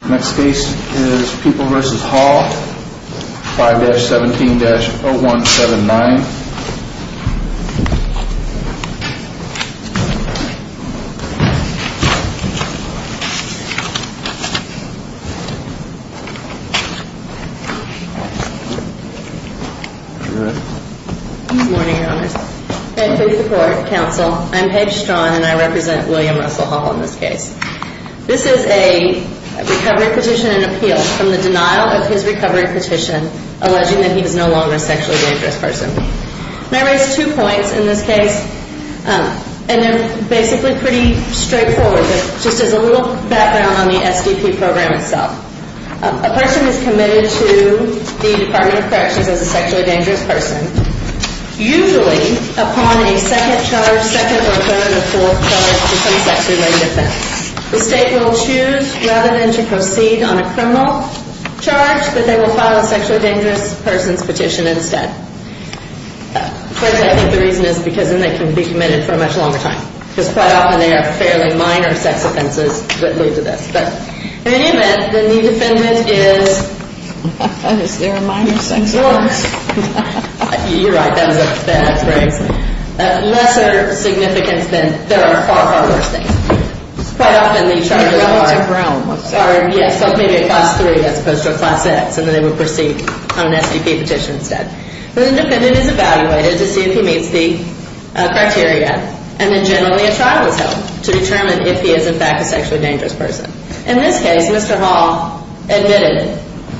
The next case is People v. Hall, 5-17-0179. Good morning, Your Honors. Good morning. And for the court, counsel, I'm Paige Straughn, and I represent William Russell Hall in this case. This is a recovery petition and appeal from the denial of his recovery petition alleging that he is no longer a sexually dangerous person. And I raise two points in this case, and they're basically pretty straightforward, just as a little background on the SDP program itself. A person is committed to the Department of Corrections as a sexually dangerous person, usually upon a second charge, second or third or fourth charge to some sex-related offense. The state will choose, rather than to proceed on a criminal charge, that they will file a sexually dangerous person's petition instead. First, I think the reason is because then they can be committed for a much longer time, because quite often they are fairly minor sex offenses that lead to this. But in any event, then the defendant is... Is there a minor sex offense? You're right, that's right. That's lesser significance than there are far, far worse things. Quite often the charges are... That one's a brown one. Yes, so maybe a class three as opposed to a class X, and then they would proceed on an SDP petition instead. The defendant is evaluated to see if he meets the criteria, and then generally a trial is held to determine if he is in fact a sexually dangerous person. In this case, Mr. Hall admitted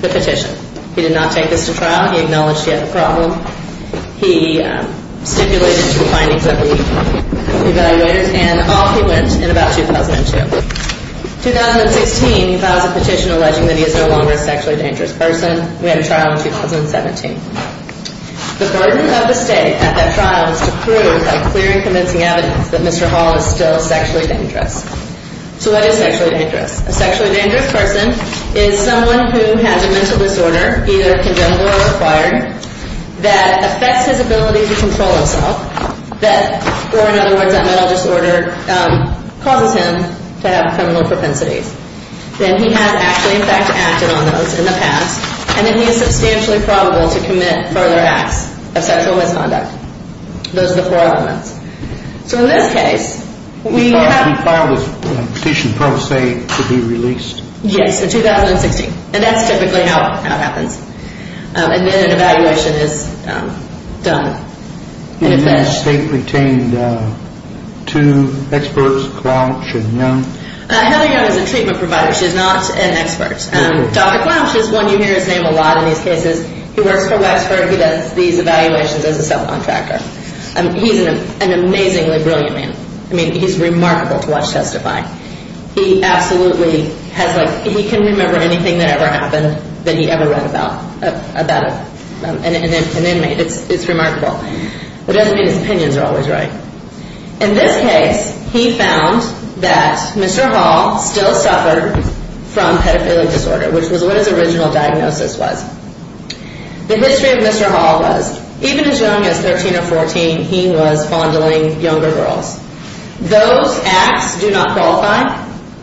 the petition. He did not take this to trial. He acknowledged he had the problem. He stipulated to the findings of the evaluators, and off he went in about 2002. In 2016, he files a petition alleging that he is no longer a sexually dangerous person. We had a trial in 2017. The burden of the state at that trial is to prove a clear and convincing evidence that Mr. Hall is still sexually dangerous. So what is sexually dangerous? A sexually dangerous person is someone who has a mental disorder, either congenital or acquired, that affects his ability to control himself. Or in other words, that mental disorder causes him to have criminal propensities. Then he has actually, in fact, acted on those in the past, and then he is substantially probable to commit further acts of sexual misconduct. Those are the four elements. So in this case, we have- He filed his petition pro se to be released? Yes, in 2016. And that's typically how it happens. And then an evaluation is done. And then the state retained two experts, Clouch and Young? Heather Young is a treatment provider. She is not an expert. Dr. Clouch is one you hear his name a lot in these cases. He works for Wexford. He does these evaluations as a self-contractor. He's an amazingly brilliant man. I mean, he's remarkable to watch testify. He absolutely has like- He can remember anything that ever happened that he ever read about an inmate. It's remarkable. It doesn't mean his opinions are always right. In this case, he found that Mr. Hall still suffered from pedophilic disorder, which was what his original diagnosis was. The history of Mr. Hall was, even as young as 13 or 14, he was fondling younger girls. Those acts do not qualify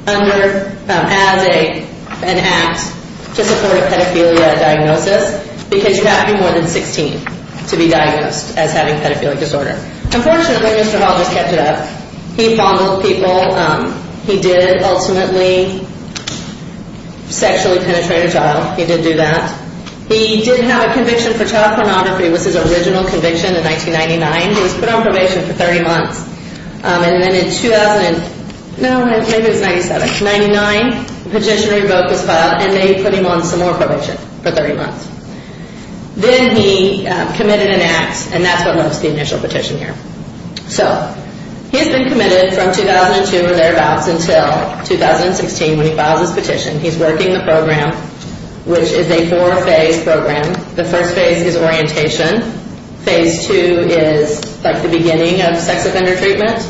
as an act to support a pedophilia diagnosis because you have to be more than 16 to be diagnosed as having pedophilic disorder. Unfortunately, Mr. Hall just kept it up. He fondled people. He did ultimately sexually penetrate a child. He did do that. He did have a conviction for child pornography. It was his original conviction in 1999. He was put on probation for 30 months. And then in 2000- No, maybe it was 1997. 1999, the petition revoked his file, and they put him on some more probation for 30 months. Then he committed an act, and that's what was the initial petition here. So he's been committed from 2002 or thereabouts until 2016 when he filed his petition. He's working the program, which is a four-phase program. The first phase is orientation. Phase two is like the beginning of sex offender treatment.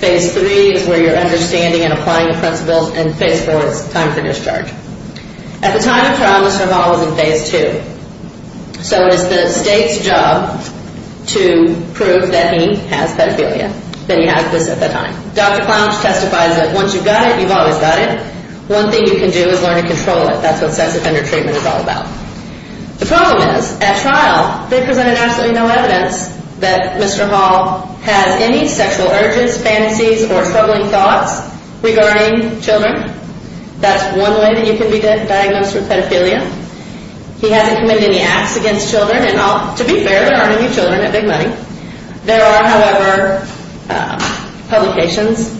Phase three is where you're understanding and applying the principles. And phase four is time for discharge. At the time of trial, Mr. Hall was in phase two. So it is the state's job to prove that he has pedophilia, that he has this at the time. Dr. Clownish testifies that once you've got it, you've always got it. One thing you can do is learn to control it. That's what sex offender treatment is all about. The problem is, at trial, they presented absolutely no evidence that Mr. Hall has any sexual urges, fantasies, or troubling thoughts regarding children. That's one way that you can be diagnosed with pedophilia. He hasn't committed any acts against children. And to be fair, there aren't any children at Big Money. There are, however, publications,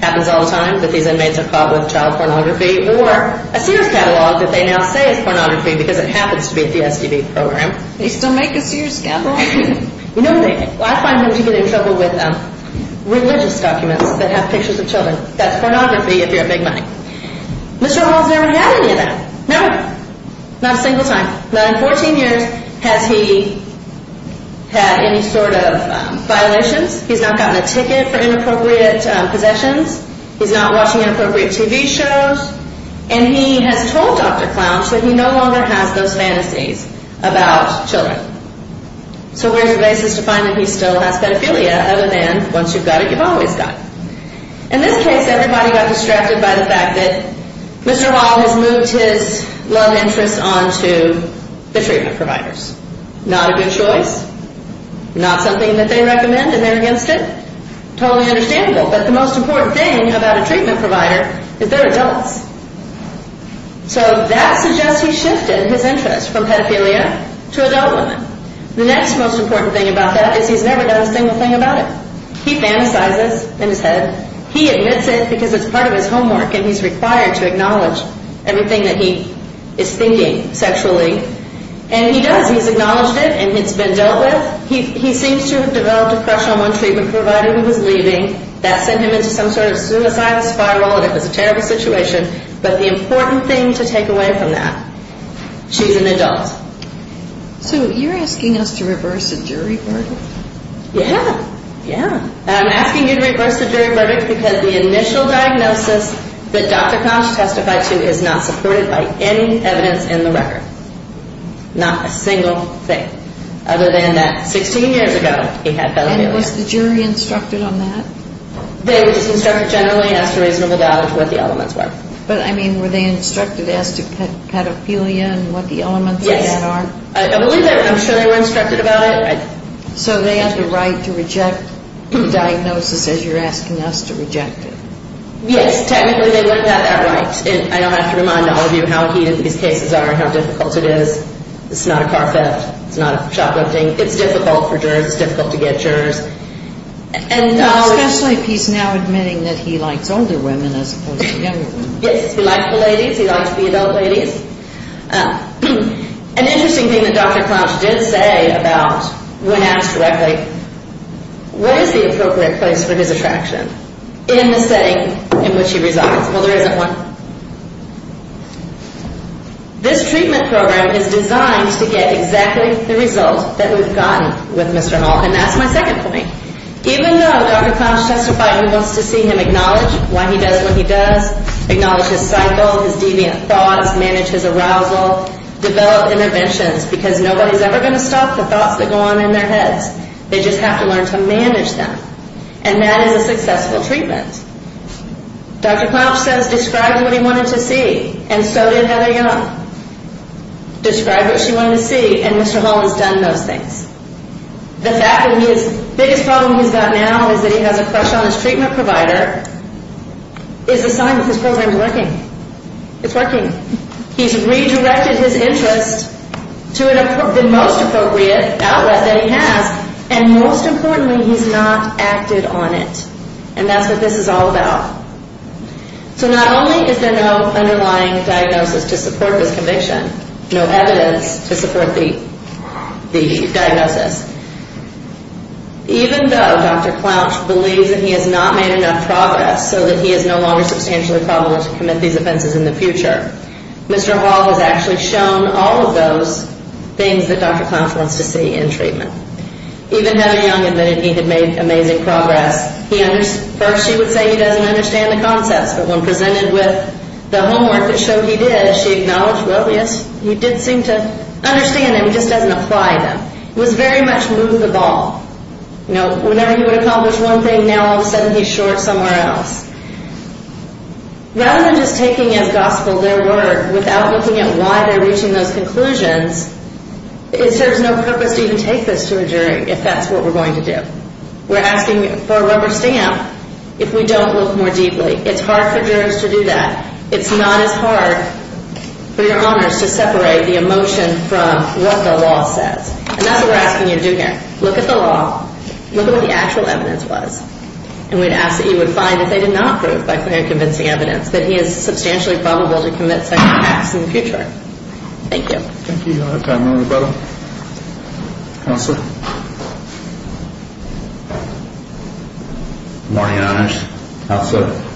happens all the time, that these inmates are caught with child pornography or a Sears catalog that they now say is pornography because it happens to be at the SDB program. They still make a Sears catalog? No, they don't. I find them to be in trouble with religious documents that have pictures of children. So that's pornography if you're at Big Money. Mr. Hall's never had any of that. No, not a single time. Not in 14 years has he had any sort of violations. He's not gotten a ticket for inappropriate possessions. He's not watching inappropriate TV shows. And he has told Dr. Clownish that he no longer has those fantasies about children. So where's your basis to find that he still has pedophilia, other than once you've got it, you've always got it? In this case, everybody got distracted by the fact that Mr. Hall has moved his love interest onto the treatment providers. Not a good choice. Not something that they recommend and they're against it. Totally understandable. But the most important thing about a treatment provider is they're adults. So that suggests he's shifted his interest from pedophilia to adult women. The next most important thing about that is he's never done a single thing about it. He fantasizes in his head. He admits it because it's part of his homework and he's required to acknowledge everything that he is thinking sexually. And he does. He's acknowledged it and it's been dealt with. He seems to have developed a crush on one treatment provider who was leaving. That sent him into some sort of suicidal spiral and it was a terrible situation. But the important thing to take away from that, she's an adult. So you're asking us to reverse a jury verdict? Yeah. Yeah. I'm asking you to reverse the jury verdict because the initial diagnosis that Dr. Koch testified to is not supported by any evidence in the record. Not a single thing. Other than that 16 years ago he had pedophilia. And was the jury instructed on that? They were just instructed generally and asked for reasonable doubt as to what the elements were. But, I mean, were they instructed as to pedophilia and what the elements of that are? Yes. I believe they were. I'm sure they were instructed about it. So they have the right to reject the diagnosis as you're asking us to reject it? Yes. Technically they would have had that right. I don't have to remind all of you how heated these cases are and how difficult it is. It's not a car theft. It's not a shoplifting. It's difficult for jurors. It's difficult to get jurors. Especially if he's now admitting that he likes older women as opposed to younger women. Yes. He likes the ladies. He likes the adult ladies. An interesting thing that Dr. Clouch did say about when asked directly, what is the appropriate place for his attraction in the setting in which he resides? Well, there isn't one. This treatment program is designed to get exactly the result that we've gotten with Mr. Hoff. And that's my second point. Even though Dr. Clouch testified he wants to see him acknowledge why he does what he does, acknowledge his cycle, his deviant thoughts, manage his arousal, develop interventions, because nobody's ever going to stop the thoughts that go on in their heads. They just have to learn to manage them. And that is a successful treatment. Dr. Clouch says describe what he wanted to see, and so did Heather Young. Describe what she wanted to see, and Mr. Holland's done those things. The fact that his biggest problem he's got now is that he has a crush on his treatment provider is a sign that this program is working. It's working. He's redirected his interest to the most appropriate outlet that he has, and most importantly, he's not acted on it. And that's what this is all about. So not only is there no underlying diagnosis to support this conviction, no evidence to support the diagnosis, even though Dr. Clouch believes that he has not made enough progress so that he is no longer substantially probable to commit these offenses in the future, Mr. Holland has actually shown all of those things that Dr. Clouch wants to see in treatment. Even Heather Young admitted he had made amazing progress. First she would say he doesn't understand the concepts, but when presented with the homework that showed he did, she acknowledged, well, yes, you did seem to understand them, he just doesn't apply them. It was very much move the ball. Whenever he would accomplish one thing, now all of a sudden he's short somewhere else. Rather than just taking as gospel their work without looking at why they're reaching those conclusions, it serves no purpose to even take this to a jury if that's what we're going to do. We're asking for a rubber stamp if we don't look more deeply. It's hard for jurors to do that. It's not as hard for your honors to separate the emotion from what the law says. And that's what we're asking you to do here. Look at the law, look at what the actual evidence was, and we'd ask that you would find if they did not prove by clear and convincing evidence that he is substantially probable to commit sexual acts in the future. Thank you. Thank you. Time for a rebuttal. Counselor. Good morning, Your Honors. Counselor.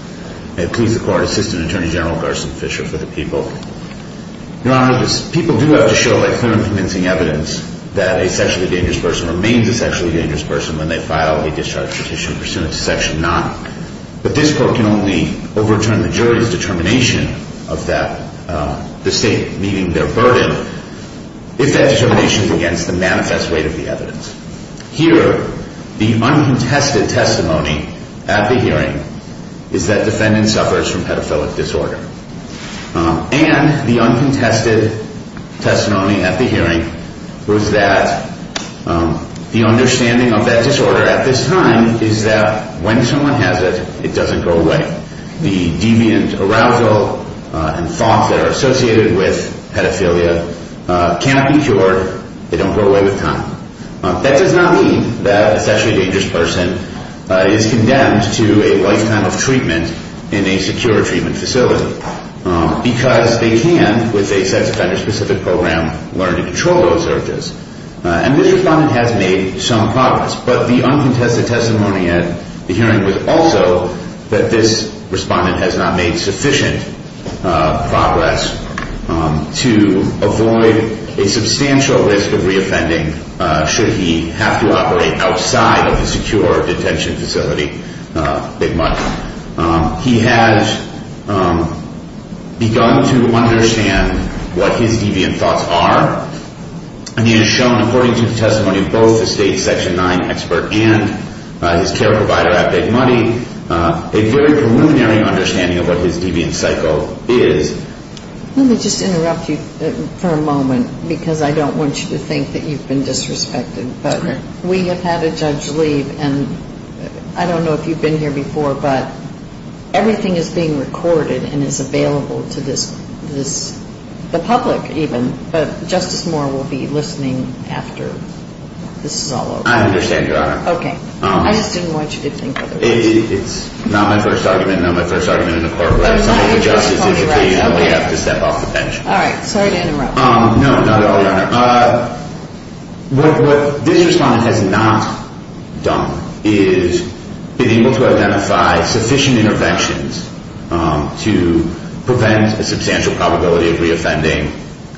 May it please the court, Assistant Attorney General Garson Fisher for the people. Your Honors, people do have to show by clear and convincing evidence that a sexually dangerous person remains a sexually dangerous person when they file a discharge petition pursuant to Section 9. But this court can only overturn the jury's determination of the state meeting their burden if that determination is against the manifest weight of the evidence. Here, the uncontested testimony at the hearing is that defendant suffers from pedophilic disorder. And the uncontested testimony at the hearing was that the understanding of that disorder at this time is that when someone has it, it doesn't go away. The deviant arousal and thoughts that are associated with pedophilia cannot be cured. They don't go away with time. That does not mean that a sexually dangerous person is condemned to a lifetime of treatment in a secure treatment facility because they can, with a sex offender-specific program, learn to control those urges. And this respondent has made some progress. But the uncontested testimony at the hearing was also that this respondent has not made sufficient progress to avoid a substantial risk of reoffending should he have to operate outside of the secure detention facility at Big Muddy. He has begun to understand what his deviant thoughts are. And he has shown, according to the testimony of both the state Section 9 expert and his care provider at Big Muddy, a very preliminary understanding of what his deviant cycle is. Let me just interrupt you for a moment because I don't want you to think that you've been disrespected. But we have had a judge leave, and I don't know if you've been here before, but everything is being recorded and is available to the public even. But Justice Moore will be listening after this is all over. I understand, Your Honor. Okay. I just didn't want you to think otherwise. It's not my first argument. Not my first argument in the court. I'm sorry to interrupt. All right. Sorry to interrupt. No, not at all, Your Honor. What this respondent has not done is been able to identify sufficient interventions to prevent a substantial probability of reoffending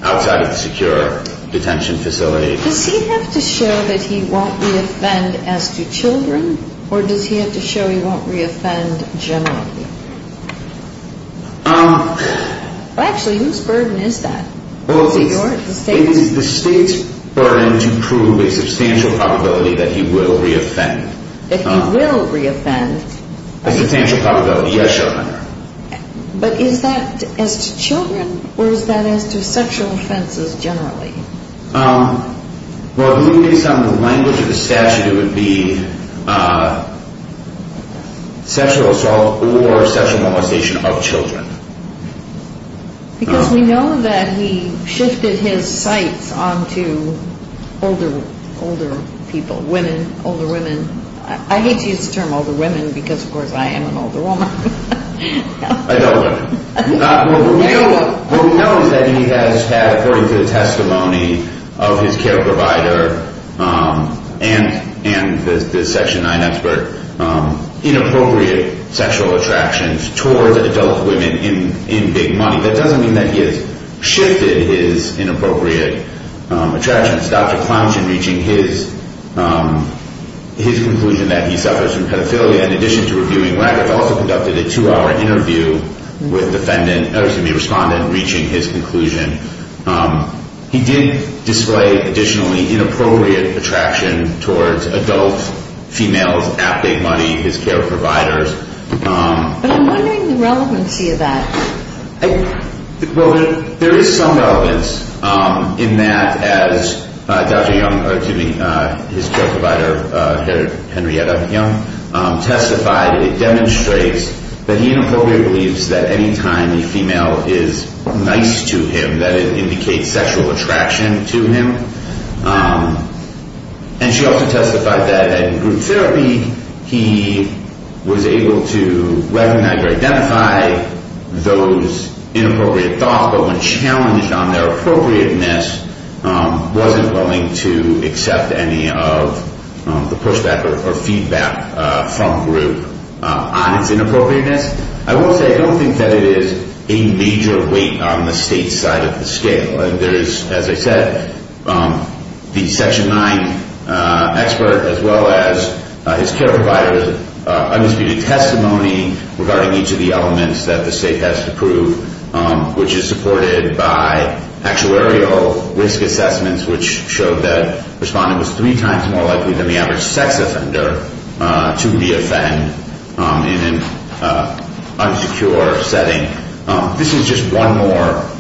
outside of the secure detention facility. Does he have to show that he won't reoffend as to children, or does he have to show he won't reoffend generally? Actually, whose burden is that? The state's burden to prove a substantial probability that he will reoffend. That he will reoffend. A substantial probability, yes, Your Honor. But is that as to children, or is that as to sexual offenses generally? Well, based on the language of the statute, it would be sexual assault or sexual molestation of children. Because we know that he shifted his sights on to older people, women, older women. I hate to use the term older women because, of course, I am an older woman. Adult women. What we know is that he has had, according to the testimony of his care provider and the Section 9 expert, inappropriate sexual attractions towards adult women in big money. That doesn't mean that he has shifted his inappropriate attractions. Dr. Planchin, reaching his conclusion that he suffers from pedophilia, in addition to reviewing records, also conducted a two-hour interview with a respondent reaching his conclusion. He did display, additionally, inappropriate attraction towards adult females at big money, his care providers. But I'm wondering the relevancy of that. Well, there is some relevance in that, as Dr. Young, or excuse me, his care provider, Henrietta Young, testified. It demonstrates that he inappropriately believes that any time a female is nice to him, that it indicates sexual attraction to him. And she also testified that in group therapy, he was able to recognize or identify those inappropriate thoughts, but when challenged on their appropriateness, wasn't willing to accept any of the pushback or feedback from group on its inappropriateness. I will say I don't think that it is a major weight on the state side of the scale. There is, as I said, the Section 9 expert, as well as his care provider, undisputed testimony regarding each of the elements that the state has to prove, which is supported by actuarial risk assessments, which showed that the respondent was three times more likely than the average sex offender to be offended in an unsecure setting. This is just one more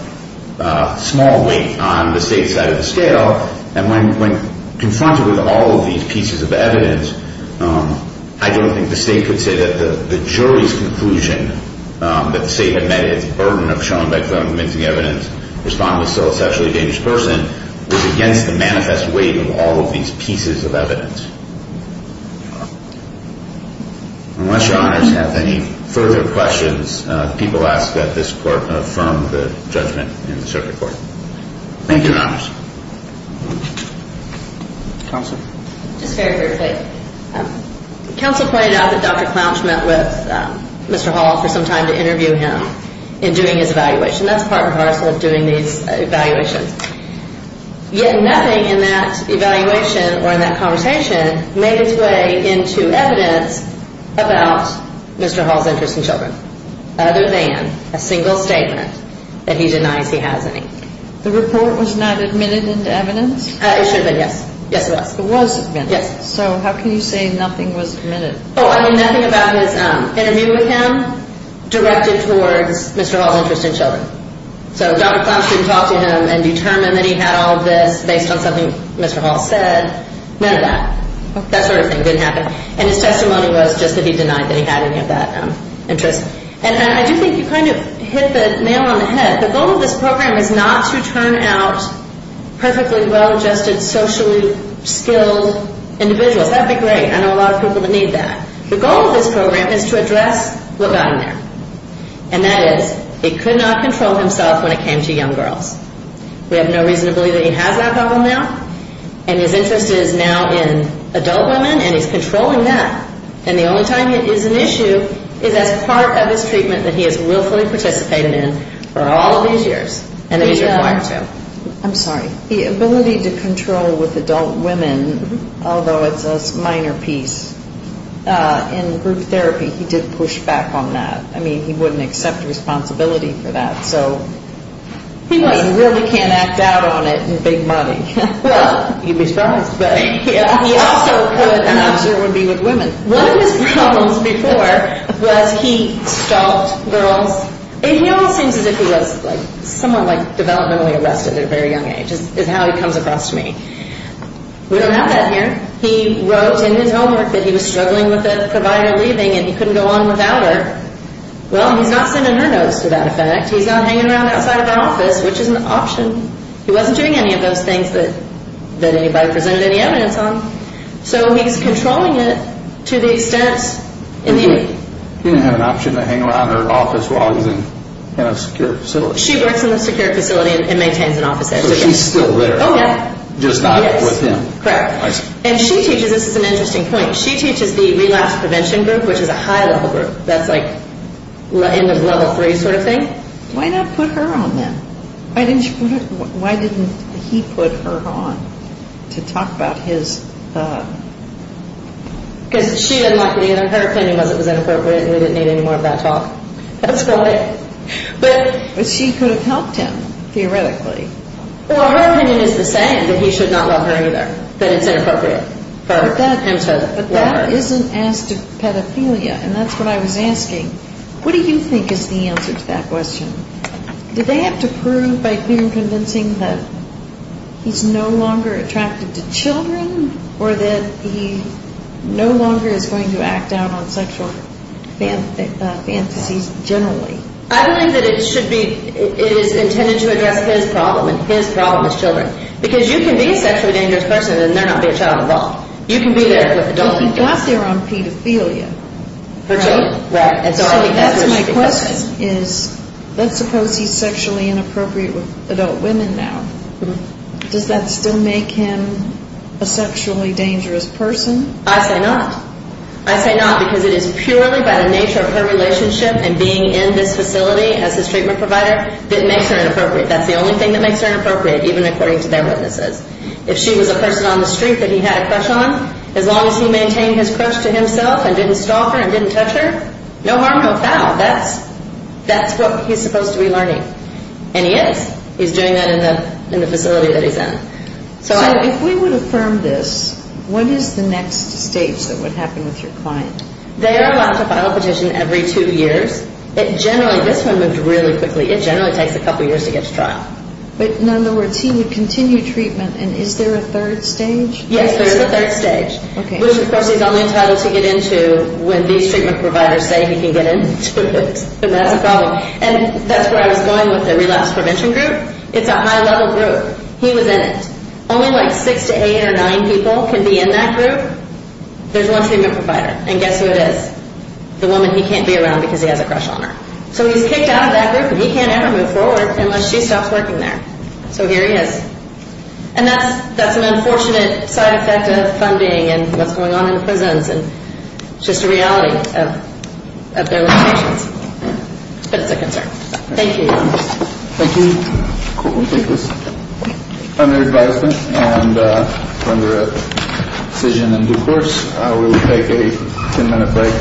small weight on the state side of the scale. And when confronted with all of these pieces of evidence, I don't think the state could say that the jury's conclusion that the state had met its burden of showing by convincing evidence the respondent was still a sexually damaged person was against the manifest weight of all of these pieces of evidence. Unless your honors have any further questions, people ask that this court affirm the judgment in the circuit court. Thank you, your honors. Counsel. Just very, very quickly. Counsel pointed out that Dr. Clouch met with Mr. Hall for some time to interview him in doing his evaluation. That's part and parcel of doing these evaluations. Yet nothing in that evaluation or in that conversation made its way into evidence about Mr. Hall's interest in children other than a single statement that he denies he has any. The report was not admitted into evidence? It should have been, yes. Yes, it was. It was admitted. Yes. So how can you say nothing was admitted? Oh, I mean, nothing about his interview with him directed towards Mr. Hall's interest in children. So Dr. Clouch didn't talk to him and determine that he had all this based on something Mr. Hall said. None of that. That sort of thing didn't happen. And his testimony was just that he denied that he had any of that interest. And I do think you kind of hit the nail on the head. The goal of this program is not to turn out perfectly well-adjusted, socially skilled individuals. That would be great. I know a lot of people that need that. The goal of this program is to address what got in there, and that is he could not control himself when it came to young girls. We have no reason to believe that he has that problem now, and his interest is now in adult women, and he's controlling that. And the only time it is an issue is as part of his treatment that he has willfully participated in for all of these years, and that he's required to. I'm sorry. The ability to control with adult women, although it's a minor piece, in group therapy he did push back on that. I mean, he wouldn't accept responsibility for that. He really can't act out on it and make money. Well, you'd be surprised. He also could, and I'm sure it would be with women. One of his problems before was he stalled girls. He almost seems as if he was somewhat developmentally arrested at a very young age is how he comes across to me. We don't have that here. He wrote in his homework that he was struggling with a provider leaving and he couldn't go on without her. Well, he's not sending her notes to that effect. He's not hanging around outside of the office, which is an option. He wasn't doing any of those things that anybody presented any evidence on. So he's controlling it to the extent. He didn't have an option to hang around her office while he was in a secure facility. She works in the secure facility and maintains an office there. So she's still there. Oh, yeah. Just not with him. Correct. I see. And she teaches, this is an interesting point, she teaches the relapse prevention group, which is a high-level group. That's like in the level three sort of thing. Why not put her on then? Why didn't he put her on to talk about his... Because she didn't like it either. Her opinion was it was inappropriate and we didn't need any more of that talk. That's about it. But she could have helped him, theoretically. Well, her opinion is the same, that he should not love her either, that it's inappropriate for him to love her. But that isn't as to pedophilia, and that's what I was asking. What do you think is the answer to that question? Do they have to prove by being convincing that he's no longer attracted to children or that he no longer is going to act out on sexual fantasies generally? I believe that it should be, it is intended to address his problem and his problem as children. Because you can be a sexually dangerous person and not be a child at all. You can be there with adult kids. But he got there on pedophilia, right? Right. So that's my question, is let's suppose he's sexually inappropriate with adult women now. Does that still make him a sexually dangerous person? I say not. I say not because it is purely by the nature of her relationship and being in this facility as his treatment provider that makes her inappropriate. That's the only thing that makes her inappropriate, even according to their witnesses. If she was a person on the street that he had a crush on, as long as he maintained his crush to himself and didn't stalk her and didn't touch her, no harm, no foul. That's what he's supposed to be learning. And he is. He's doing that in the facility that he's in. So if we would affirm this, what is the next stage that would happen with your client? They are allowed to file a petition every two years. It generally, this one moved really quickly. It generally takes a couple years to get to trial. But, in other words, he would continue treatment, and is there a third stage? Yes, there is a third stage, which, of course, he's only entitled to get into when these treatment providers say he can get into it. And that's a problem. And that's where I was going with the relapse prevention group. It's a high-level group. He was in it. Only like six to eight or nine people can be in that group. There's one treatment provider, and guess who it is? The woman he can't be around because he has a crush on her. So he's kicked out of that group, and he can't ever move forward unless she stops working there. So here he is. And that's an unfortunate side effect of funding and what's going on in the prisons. It's just a reality of their limitations. But it's a concern. Thank you. Thank you. Under advisement and under a decision in due course, we will take a 10-minute break.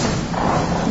We'll be back.